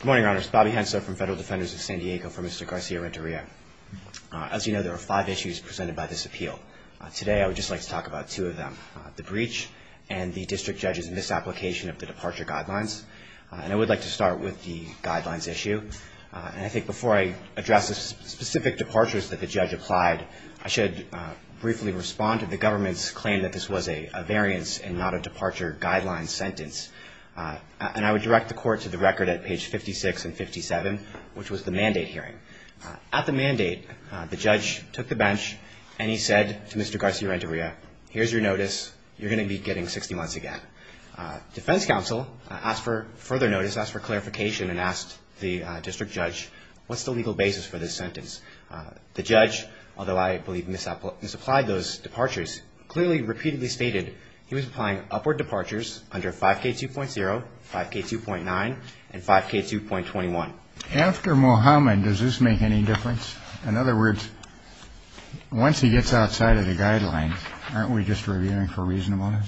Good morning, Your Honors. Bobby Hensler from Federal Defenders of San Diego for Mr. Garcia-Renteria. As you know, there are five issues presented by this appeal. Today, I would just like to talk about two of them, the breach and the district judge's misapplication of the departure guidelines. And I would like to start with the guidelines issue. And I think before I address the specific departures that the judge applied, I should briefly respond to the government's claim that this was a variance and not a departure guidelines sentence. And I would direct the court to the record at page 56 and 57, which was the mandate hearing. At the mandate, the judge took the bench, and he said to Mr. Garcia-Renteria, here's your notice. You're going to be getting 60 months again. Defense counsel asked for further notice, asked for clarification, and asked the district judge, what's the legal basis for this sentence? The judge, although I believe misapplied those departures, clearly repeatedly stated he was applying upward departures under 5K2.0, 5K2.9, and 5K2.21. After Muhammad, does this make any difference? In other words, once he gets outside of the guideline, aren't we just reviewing for reasonableness?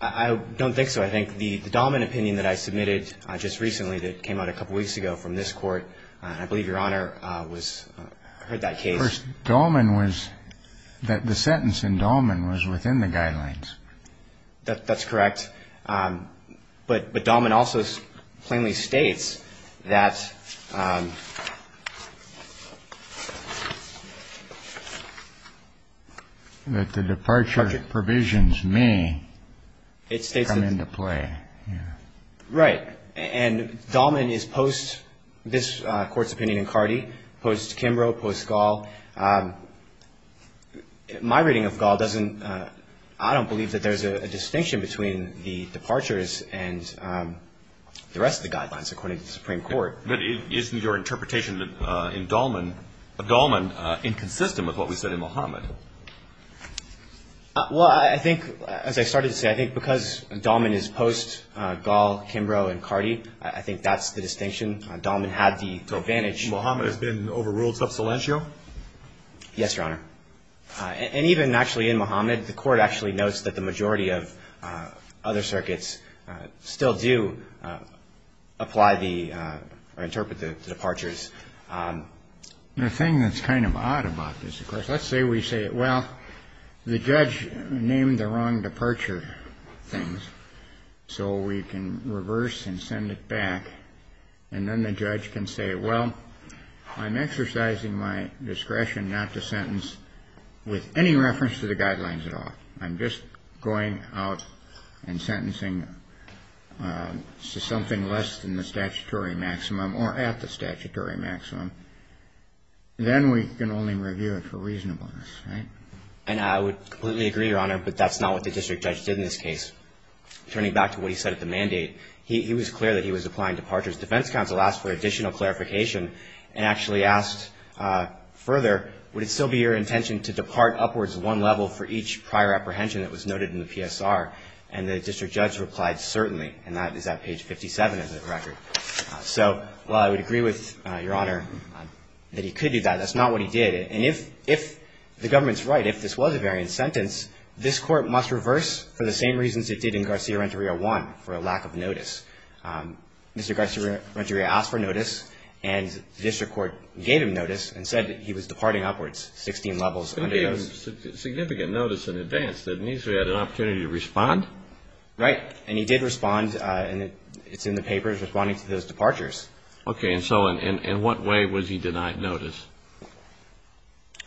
I don't think so. I think the Dahlman opinion that I submitted just recently that came out a couple weeks ago from this court, and I believe Your Honor heard that case. The sentence in Dahlman was within the guidelines. That's correct. But Dahlman also plainly states that the departure provisions may come into play. Right. And Dahlman is post-this Court's opinion in Cardi, post-Kimbrough, post-Gaul. My reading of Gaul doesn't, I don't believe that there's a distinction between the departures and the rest of the guidelines according to the Supreme Court. But isn't your interpretation in Dahlman inconsistent with what we said in Muhammad? Well, I think, as I started to say, I think because Dahlman is post-Gaul, Kimbrough, and Cardi, I think that's the distinction. Dahlman had the advantage. Muhammad has been overruled sub salientio? Yes, Your Honor. And even actually in Muhammad, the Court actually notes that the majority of other circuits still do apply the or interpret the departures. The thing that's kind of odd about this, of course, let's say we say, well, the judge named the wrong departure things. So we can reverse and send it back. And then the judge can say, well, I'm exercising my discretion not to sentence with any reference to the guidelines at all. I'm just going out and sentencing to something less than the statutory maximum or at the statutory maximum. Then we can only review it for reasonableness, right? And I would completely agree, Your Honor, but that's not what the district judge did in this case. Turning back to what he said at the mandate, he was clear that he was applying departures. Defense counsel asked for additional clarification and actually asked further, would it still be your intention to depart upwards one level for each prior apprehension that was noted in the PSR? And the district judge replied, certainly, and that is at page 57 of the record. So while I would agree with Your Honor that he could do that, that's not what he did. And if the government's right, if this was a variant sentence, this Court must reverse for the same reasons it did in Garcia-Renteria 1, for a lack of notice. Mr. Garcia-Renteria asked for notice, and the district court gave him notice and said that he was departing upwards 16 levels. He gave him significant notice in advance. Didn't he say he had an opportunity to respond? Right. And he did respond, and it's in the papers, responding to those departures. Okay. And so in what way was he denied notice?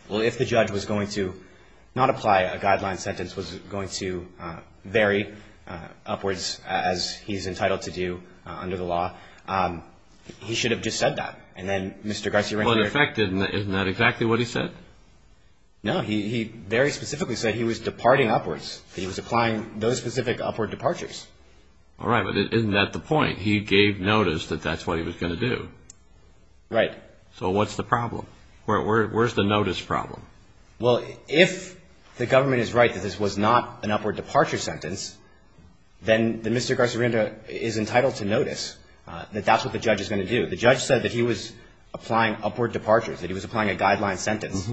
Well, if the judge was going to not apply a guideline sentence, was going to vary upwards, as he's entitled to do under the law, he should have just said that. Well, in effect, isn't that exactly what he said? No. He very specifically said he was departing upwards, that he was applying those specific upward departures. All right. But isn't that the point? He gave notice that that's what he was going to do. Right. So what's the problem? Where's the notice problem? Well, if the government is right that this was not an upward departure sentence, then Mr. Garcia-Renteria is entitled to notice that that's what the judge is going to do. The judge said that he was applying upward departures, that he was applying a guideline sentence.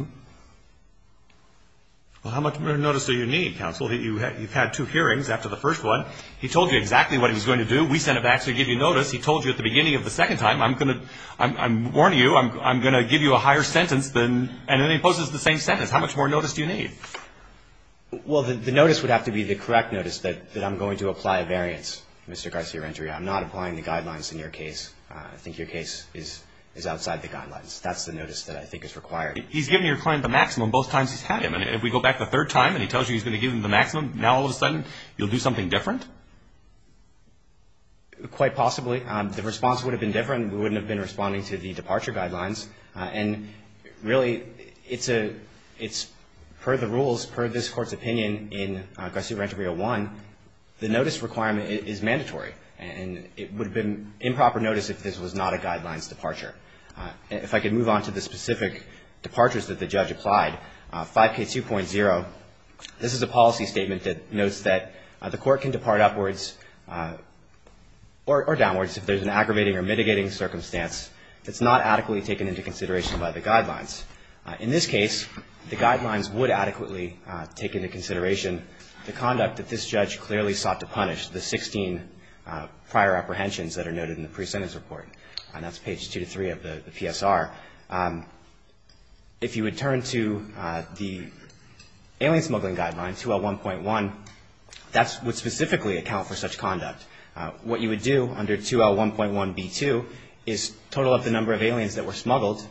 Well, how much more notice do you need, counsel? You've had two hearings after the first one. He told you exactly what he was going to do. We sent it back to give you notice. He told you at the beginning of the second time, I'm going to warn you, I'm going to give you a higher sentence than and then he poses the same sentence. How much more notice do you need? Well, the notice would have to be the correct notice, that I'm going to apply a variance, Mr. Garcia-Renteria. I'm not applying the guidelines in your case. I think your case is outside the guidelines. That's the notice that I think is required. He's given your client the maximum both times he's had him. And if we go back the third time and he tells you he's going to give him the maximum, now all of a sudden you'll do something different? Quite possibly. The response would have been different. We wouldn't have been responding to the departure guidelines. And really, it's per the rules, per this Court's opinion in Garcia-Renteria 1, the notice requirement is mandatory. And it would have been improper notice if this was not a guidelines departure. If I could move on to the specific departures that the judge applied, 5K2.0, this is a policy statement that notes that the Court can depart upwards or downwards if there's an aggravating or mitigating circumstance that's not adequately taken into consideration by the guidelines. In this case, the guidelines would adequately take into consideration the conduct that this judge clearly sought to punish, the 16 prior apprehensions that are noted in the pre-sentence report. And that's page 2-3 of the PSR. If you would turn to the alien smuggling guidelines, 2L1.1, that would specifically account for such conduct. What you would do under 2L1.1b2 is total up the number of aliens that were smuggled.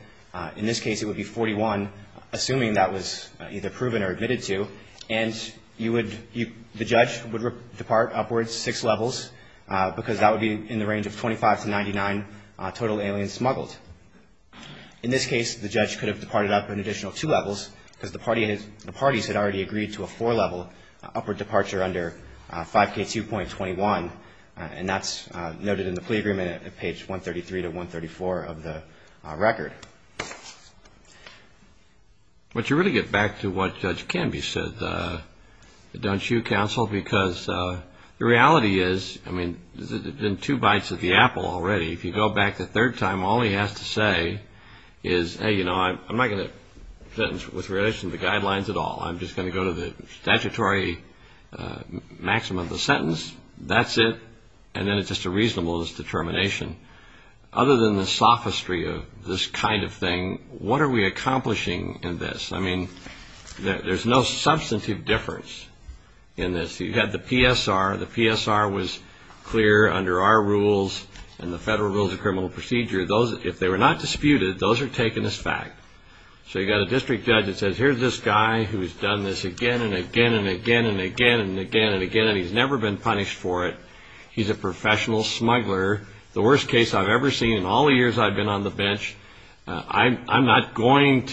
In this case, it would be 41, assuming that was either proven or admitted to. And the judge would depart upwards six levels because that would be in the range of 25 to 99 total aliens smuggled. In this case, the judge could have departed up an additional two levels because the parties had already agreed to a four-level upward departure under 5K2.21, and that's noted in the plea agreement at page 133-134 of the record. But you really get back to what Judge Canby said, don't you, counsel? Because the reality is, I mean, there's been two bites at the apple already. If you go back the third time, all he has to say is, hey, you know, I'm not going to sentence with relation to the guidelines at all. I'm just going to go to the statutory maximum of the sentence. That's it. And then it's just a reasonable determination. Other than the sophistry of this kind of thing, what are we accomplishing in this? I mean, there's no substantive difference in this. You have the PSR. The PSR was clear under our rules and the Federal Rules of Criminal Procedure. If they were not disputed, those are taken as fact. So you've got a district judge that says, here's this guy who's done this again and again and again and again and again and again, and he's never been punished for it. He's a professional smuggler. The worst case I've ever seen in all the years I've been on the bench, I'm not going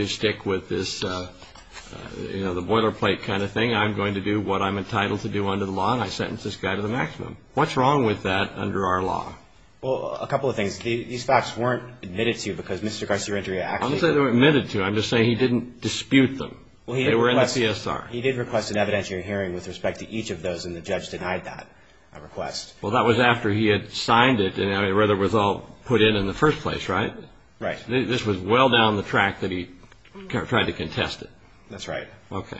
to stick with this, you know, the boilerplate kind of thing. I'm going to do what I'm entitled to do under the law, and I sentence this guy to the maximum. What's wrong with that under our law? Well, a couple of things. These facts weren't admitted to because Mr. Garcia-Redria actually said it. I'm not saying they were admitted to. I'm just saying he didn't dispute them. They were in the PSR. He did request an evidentiary hearing with respect to each of those, and the judge denied that request. Well, that was after he had signed it and it was all put in in the first place, right? Right. This was well down the track that he tried to contest it. That's right. Okay.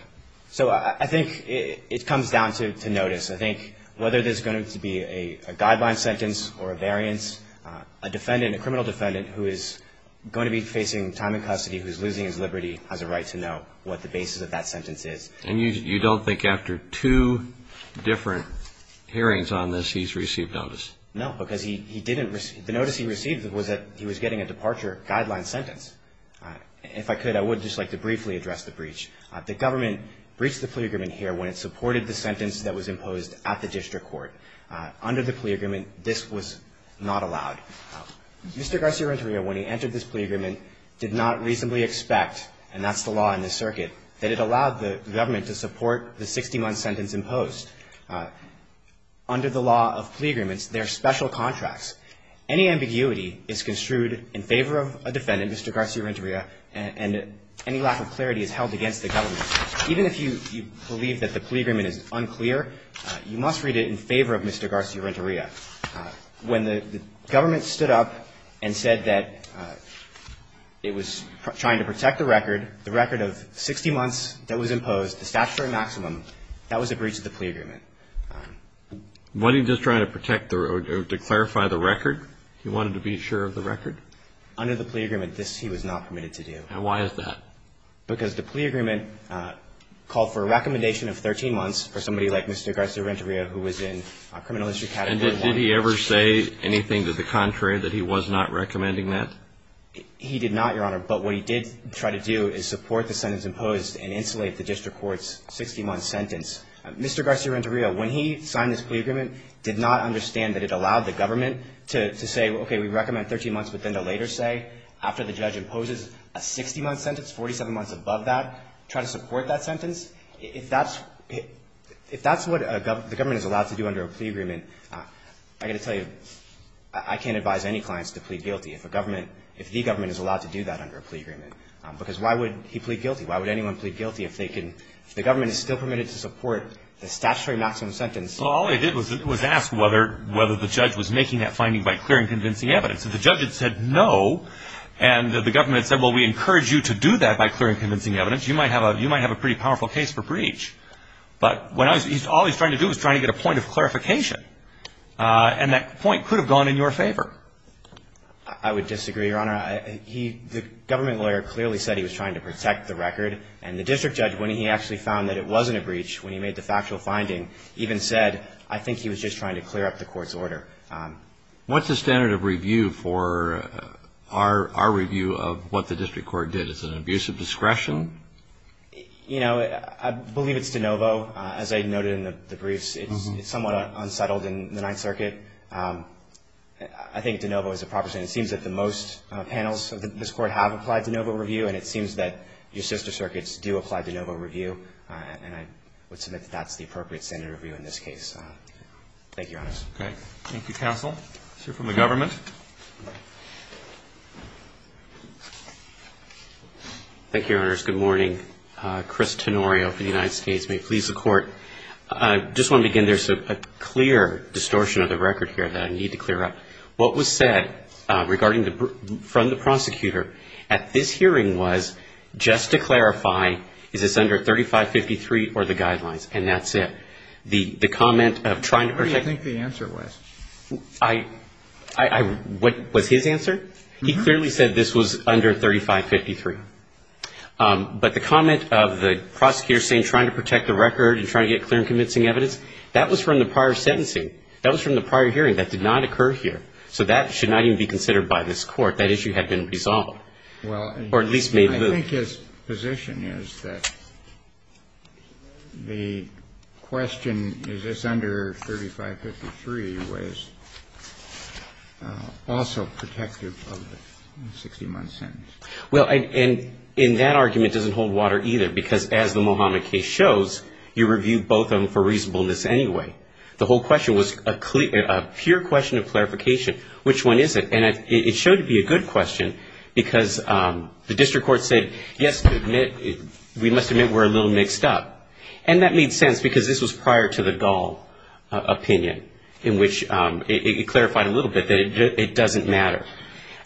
So I think it comes down to notice. I think whether there's going to be a guideline sentence or a variance, a defendant, a criminal defendant, who is going to be facing time in custody, who is losing his liberty, has a right to know what the basis of that sentence is. And you don't think after two different hearings on this he's received notice? No, because he didn't receive the notice he received was that he was getting a departure guideline sentence. If I could, I would just like to briefly address the breach. The government breached the plea agreement here when it supported the sentence that was imposed at the district court. Under the plea agreement, this was not allowed. Mr. Garcia-Renteria, when he entered this plea agreement, did not reasonably expect, and that's the law in this circuit, that it allowed the government to support the 60-month sentence imposed. Under the law of plea agreements, there are special contracts. Any ambiguity is construed in favor of a defendant, Mr. Garcia-Renteria, and any lack of clarity is held against the government. Even if you believe that the plea agreement is unclear, you must read it in favor of Mr. Garcia-Renteria. When the government stood up and said that it was trying to protect the record, the record of 60 months that was imposed, the statutory maximum, that was a breach of the plea agreement. Wasn't he just trying to protect or to clarify the record? He wanted to be sure of the record? Under the plea agreement, this he was not permitted to do. And why is that? Because the plea agreement called for a recommendation of 13 months for somebody like Mr. Garcia-Renteria, who was in criminal history category 1. And did he ever say anything to the contrary, that he was not recommending that? He did not, Your Honor. But what he did try to do is support the sentence imposed and insulate the district court's 60-month sentence. Mr. Garcia-Renteria, when he signed this plea agreement, did not understand that it allowed the government to say, okay, we recommend 13 months, but then to later say, after the judge imposes a 60-month sentence, 47 months above that, try to support that sentence. If that's what the government is allowed to do under a plea agreement, I've got to tell you, I can't advise any clients to plead guilty if a government, if the government is allowed to do that under a plea agreement. Because why would he plead guilty? Why would anyone plead guilty if they can, if the government is still permitted to support the statutory maximum sentence? Well, all they did was ask whether the judge was making that finding by clear and convincing evidence. If the judge had said no and the government had said, well, we encourage you to do that by clear and convincing evidence, you might have a pretty powerful case for breach. But all he was trying to do was try to get a point of clarification, and that point could have gone in your favor. I would disagree, Your Honor. The government lawyer clearly said he was trying to protect the record, and the district judge, when he actually found that it wasn't a breach, when he made the factual finding, even said, I think he was just trying to clear up the court's order. What's the standard of review for our review of what the district court did? Is it an abuse of discretion? You know, I believe it's de novo. As I noted in the briefs, it's somewhat unsettled in the Ninth Circuit. I think de novo is a proper standard. It seems that the most panels of this Court have applied de novo review, and it seems that your sister circuits do apply de novo review. And I would submit that that's the appropriate standard of review in this case. Thank you, Your Honor. Okay. Thank you, counsel. Let's hear from the government. Thank you, Your Honors. Good morning. Chris Tenorio for the United States. May it please the Court. I just want to begin. There's a clear distortion of the record here that I need to clear up. What was said regarding the ---- from the prosecutor at this hearing was, just to clarify, is this under 3553 or the guidelines? And that's it. The comment of trying to protect ---- What do you think the answer was? What was his answer? He clearly said this was under 3553. But the comment of the prosecutor saying trying to protect the record and trying to get clear and convincing evidence, that was from the prior sentencing. That was from the prior hearing. That did not occur here. So that should not even be considered by this Court. That issue had been resolved or at least made loose. I think his position is that the question, is this under 3553, was also protective of the 60-month sentence. Well, and in that argument, it doesn't hold water either, because as the Mohamed case shows, you reviewed both of them for reasonableness anyway. The whole question was a pure question of clarification. Which one is it? And it showed to be a good question, because the district court said, yes, we must admit we're a little mixed up. And that made sense, because this was prior to the Dahl opinion, in which it clarified a little bit that it doesn't matter.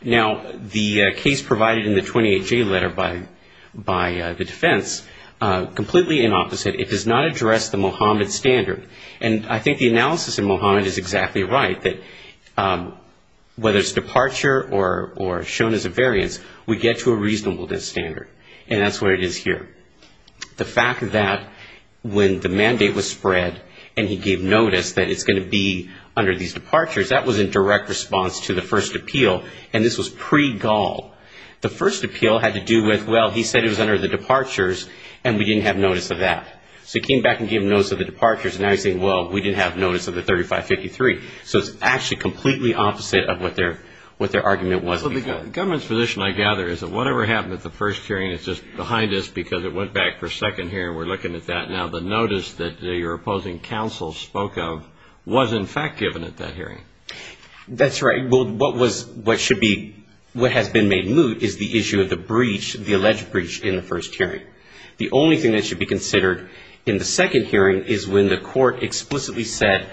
Now, the case provided in the 28J letter by the defense, completely in opposite. It does not address the Mohamed standard. And I think the analysis in Mohamed is exactly right, that whether it's departure or shown as a variance, we get to a reasonableness standard. And that's what it is here. The fact that when the mandate was spread and he gave notice that it's going to be under these departures, that was in direct response to the first appeal, and this was pre-Dahl. The first appeal had to do with, well, he said it was under the departures, and we didn't have notice of that. So he came back and gave notice of the departures, and now he's saying, well, we didn't have notice of the 3553. So it's actually completely opposite of what their argument was. So the government's position, I gather, is that whatever happened at the first hearing is just behind us, because it went back for a second hearing. We're looking at that now. The notice that your opposing counsel spoke of was, in fact, given at that hearing. That's right. What has been made moot is the issue of the breach, the alleged breach in the first hearing. The only thing that should be considered in the second hearing is when the court explicitly said,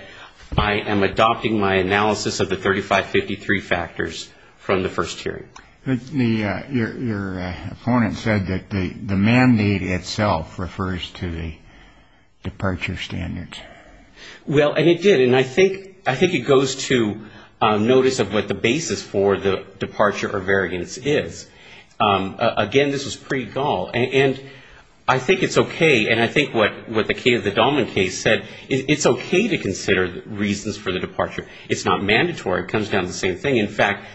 I am adopting my analysis of the 3553 factors from the first hearing. Your opponent said that the mandate itself refers to the departure standards. Well, and it did. And I think it goes to notice of what the basis for the departure or variance is. Again, this was pre-Gaul. And I think it's okay, and I think what the case, the Dahlman case said, it's okay to consider reasons for the departure. It's not mandatory. It comes down to the same thing. In fact,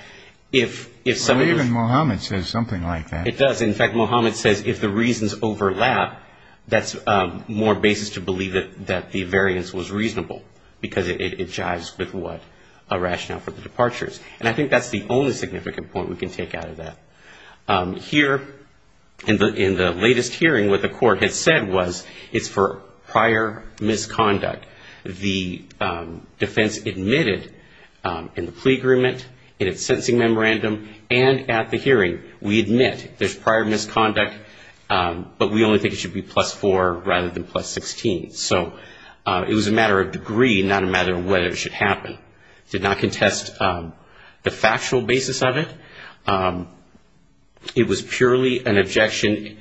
if some of the ---- Well, even Mohammed says something like that. It does. In fact, Mohammed says if the reasons overlap, that's more basis to believe that the variance was reasonable, because it jives with what a rationale for the departures. And I think that's the only significant point we can take out of that. Here, in the latest hearing, what the court had said was it's for prior misconduct. The defense admitted in the plea agreement, in its sentencing memorandum, and at the hearing, we admit, there's prior misconduct, but we only think it should be plus four rather than plus 16. So it was a matter of degree, not a matter of whether it should happen. It did not contest the factual basis of it. It was purely an objection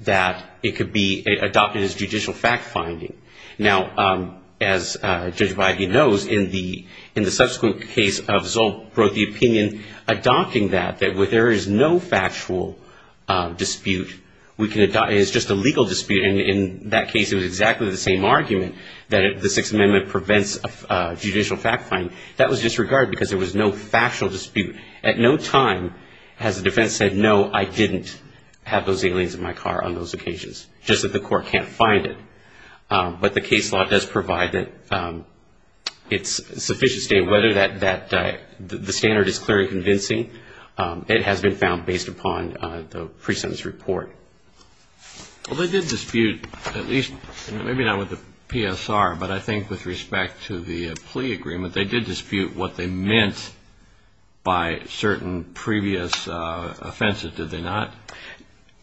that it could be adopted as judicial fact-finding. Now, as Judge Beide knows, in the subsequent case of Zolt, brought the opinion adopting that, that there is no factual dispute. We can adopt it as just a legal dispute. In that case, it was exactly the same argument, that the Sixth Amendment prevents judicial fact-finding. That was disregarded because there was no factual dispute. At no time has the defense said, no, I didn't have those aliens in my car on those occasions, just that the court can't find it. But the case law does provide that it's sufficient to state whether the standard is clearly convincing. It has been found based upon the presentence report. Well, they did dispute, at least, maybe not with the PSR, but I think with respect to the plea agreement, they did dispute what they meant by certain previous offenses, did they not?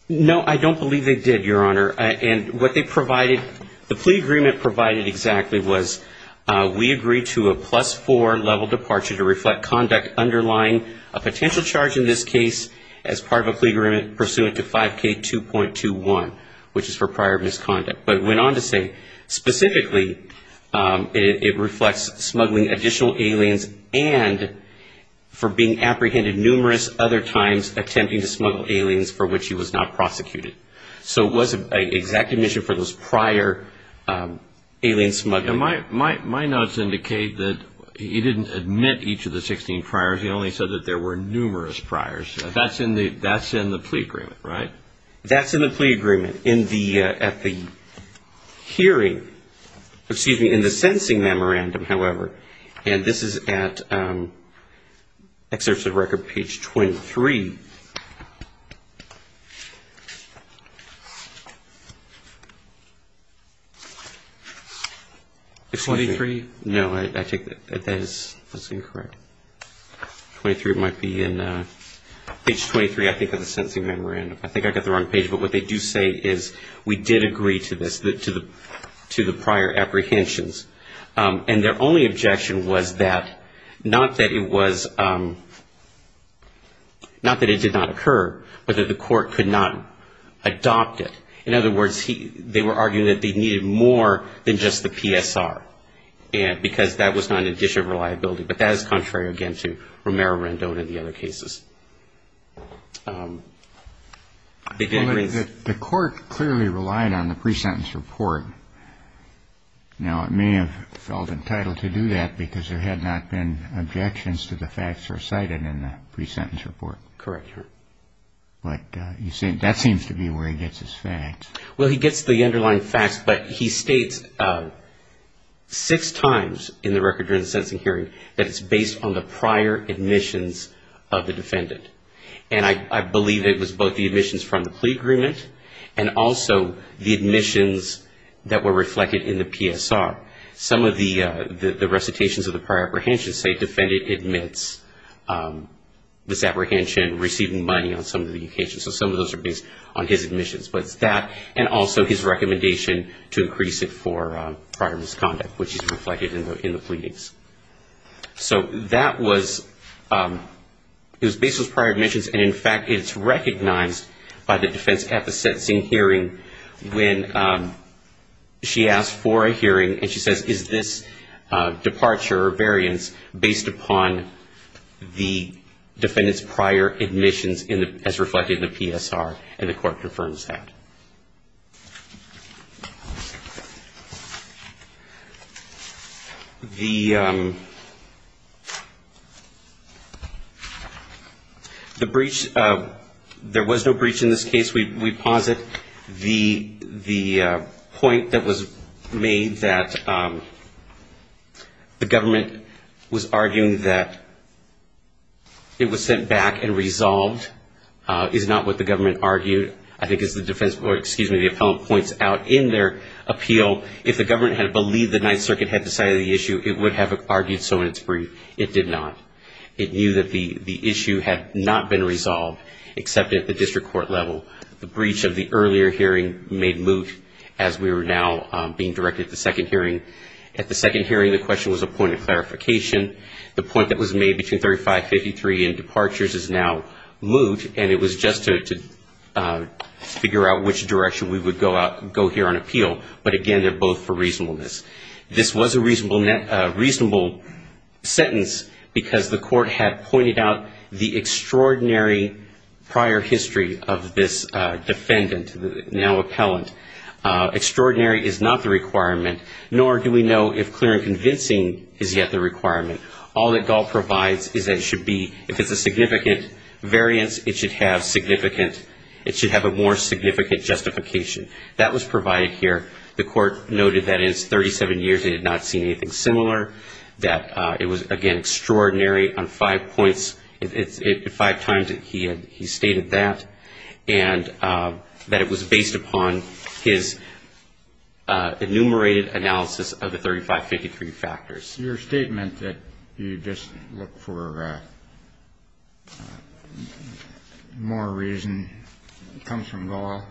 No, I don't believe they did, Your Honor. And what they provided, the plea agreement provided exactly was, we agree to a plus four level departure to reflect conduct underlying a potential charge in this case as part of a plea agreement pursuant to 5K2.21, which is for prior misconduct. But it went on to say, specifically, it reflects smuggling additional aliens and for being apprehended numerous other times attempting to smuggle aliens for which he was not prosecuted. So it wasn't an exact admission for those prior alien smuggling. My notes indicate that he didn't admit each of the 16 priors. He only said that there were numerous priors. That's in the plea agreement, right? That's in the plea agreement at the hearing, excuse me, in the sentencing memorandum, however. And this is at excerpts of record page 23. 23? No, I take that as incorrect. 23, it might be in page 23, I think, of the sentencing memorandum. I think I got the wrong page. But what they do say is, we did agree to this, to the prior apprehensions. And their only objection was that, not that it was, not that it did not occur, but that the court could not adopt it. In other words, they were arguing that they needed more than just the PSR, because that was not an addition of reliability. But that is contrary, again, to Romero-Rendon and the other cases. The court clearly relied on the pre-sentence report. Now, it may have felt entitled to do that, because there had not been objections to the facts recited in the pre-sentence report. Correct. But that seems to be where he gets his facts. Well, he gets the underlying facts, but he states six times in the record during the sentencing hearing that it's based on the prior admissions of the defendant. And I believe it was both the admissions from the plea agreement and also the admissions that were reflected in the PSR. Some of the recitations of the prior apprehensions say, defendant admits this apprehension receiving money on some of the occasions. So some of those are based on his admissions. But it's that and also his recommendation to increase it for prior misconduct, which is reflected in the pleadings. So that was based on his prior admissions, and, in fact, it's recognized by the defense at the sentencing hearing when she asks for a hearing, and she says, is this departure or variance based upon the defendant's prior admissions as reflected in the PSR, and the court confirms that. The breach, there was no breach in this case. We posit the point that was made that the government was arguing that it was sent back and resolved is not what the government argued. I think as the defense board, excuse me, the appellant points out in their appeal, if the government had believed the Ninth Circuit had decided the issue, it would have argued so in its brief. It did not. It knew that the issue had not been resolved except at the district court level. The breach of the earlier hearing made moot as we were now being directed to the second hearing. At the second hearing, the question was a point of clarification. The point that was made between 3553 and departures is now moot, and it was just to figure out which direction we would go here on appeal. But, again, they're both for reasonableness. This was a reasonable sentence because the court had pointed out the extraordinary prior history of this defendant, now appellant. Extraordinary is not the requirement, nor do we know if clear and convincing is yet the requirement. All that Gall provides is that it should be, if it's a significant variance, it should have a more significant justification. That was provided here. The court noted that in its 37 years it had not seen anything similar, that it was, again, extraordinary on five points, five times he stated that, and that it was based upon his enumerated analysis of the 3553 factors. Your statement that you just look for more reason comes from Gall?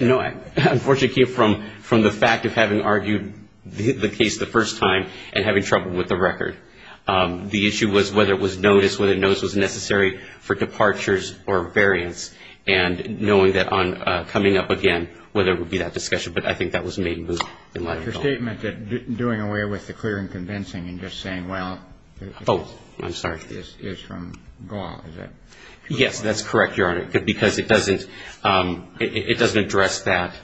No. Unfortunately, it came from the fact of having argued the case the first time and having trouble with the record. The issue was whether it was noticed, whether notice was necessary for departures or variance, and knowing that on coming up again, whether it would be that discussion. But I think that was made moot in light of Gall. Your statement that doing away with the clear and convincing and just saying, well, Oh, I'm sorry. Is from Gall, is it? Yes, that's correct, Your Honor. Because it doesn't address that,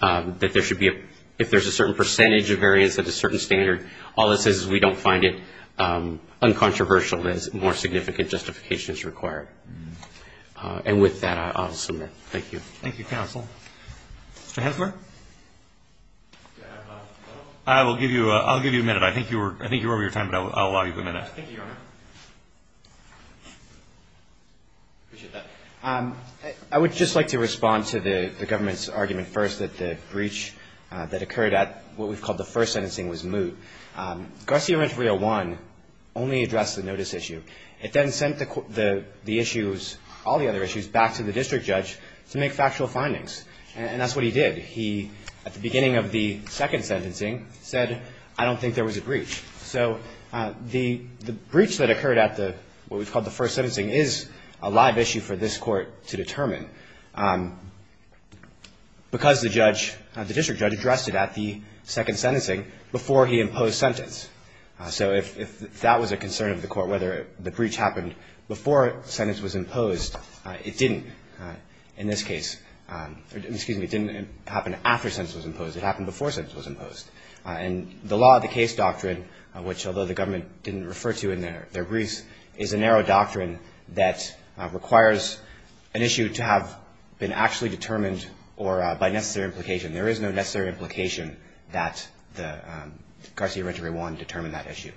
that there should be a, if there's a certain percentage of variance at a certain standard, all it says is we don't find it uncontroversial as more significant justification is required. And with that, I'll submit. Thank you. Thank you, counsel. Mr. Hensmer? I'll give you a minute. I think you were over your time, but I'll allow you a minute. Thank you, Your Honor. I appreciate that. I would just like to respond to the government's argument first that the breach that occurred at what we've called the first sentencing was moot. Garcia-Renteria 1 only addressed the notice issue. It then sent the issues, all the other issues, back to the district judge to make factual findings. And that's what he did. He, at the beginning of the second sentencing, said, I don't think there was a breach. So the breach that occurred at what we've called the first sentencing is a live issue for this court to determine because the judge, the district judge, addressed it at the second sentencing before he imposed sentence. So if that was a concern of the court, whether the breach happened before sentence was imposed, it didn't. In this case, excuse me, it didn't happen after sentence was imposed. It happened before sentence was imposed. And the law of the case doctrine, which although the government didn't refer to in their briefs, is a narrow doctrine that requires an issue to have been actually determined or by necessary implication. There is no necessary implication that the Garcia-Renteria 1 determined that issue.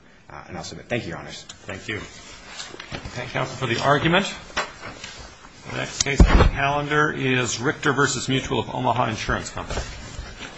And I'll submit. Thank you, Your Honors. Thank you. Thank you, counsel, for the argument. The next case on the calendar is Richter v. Mutual of Omaha Insurance Company. Thank you.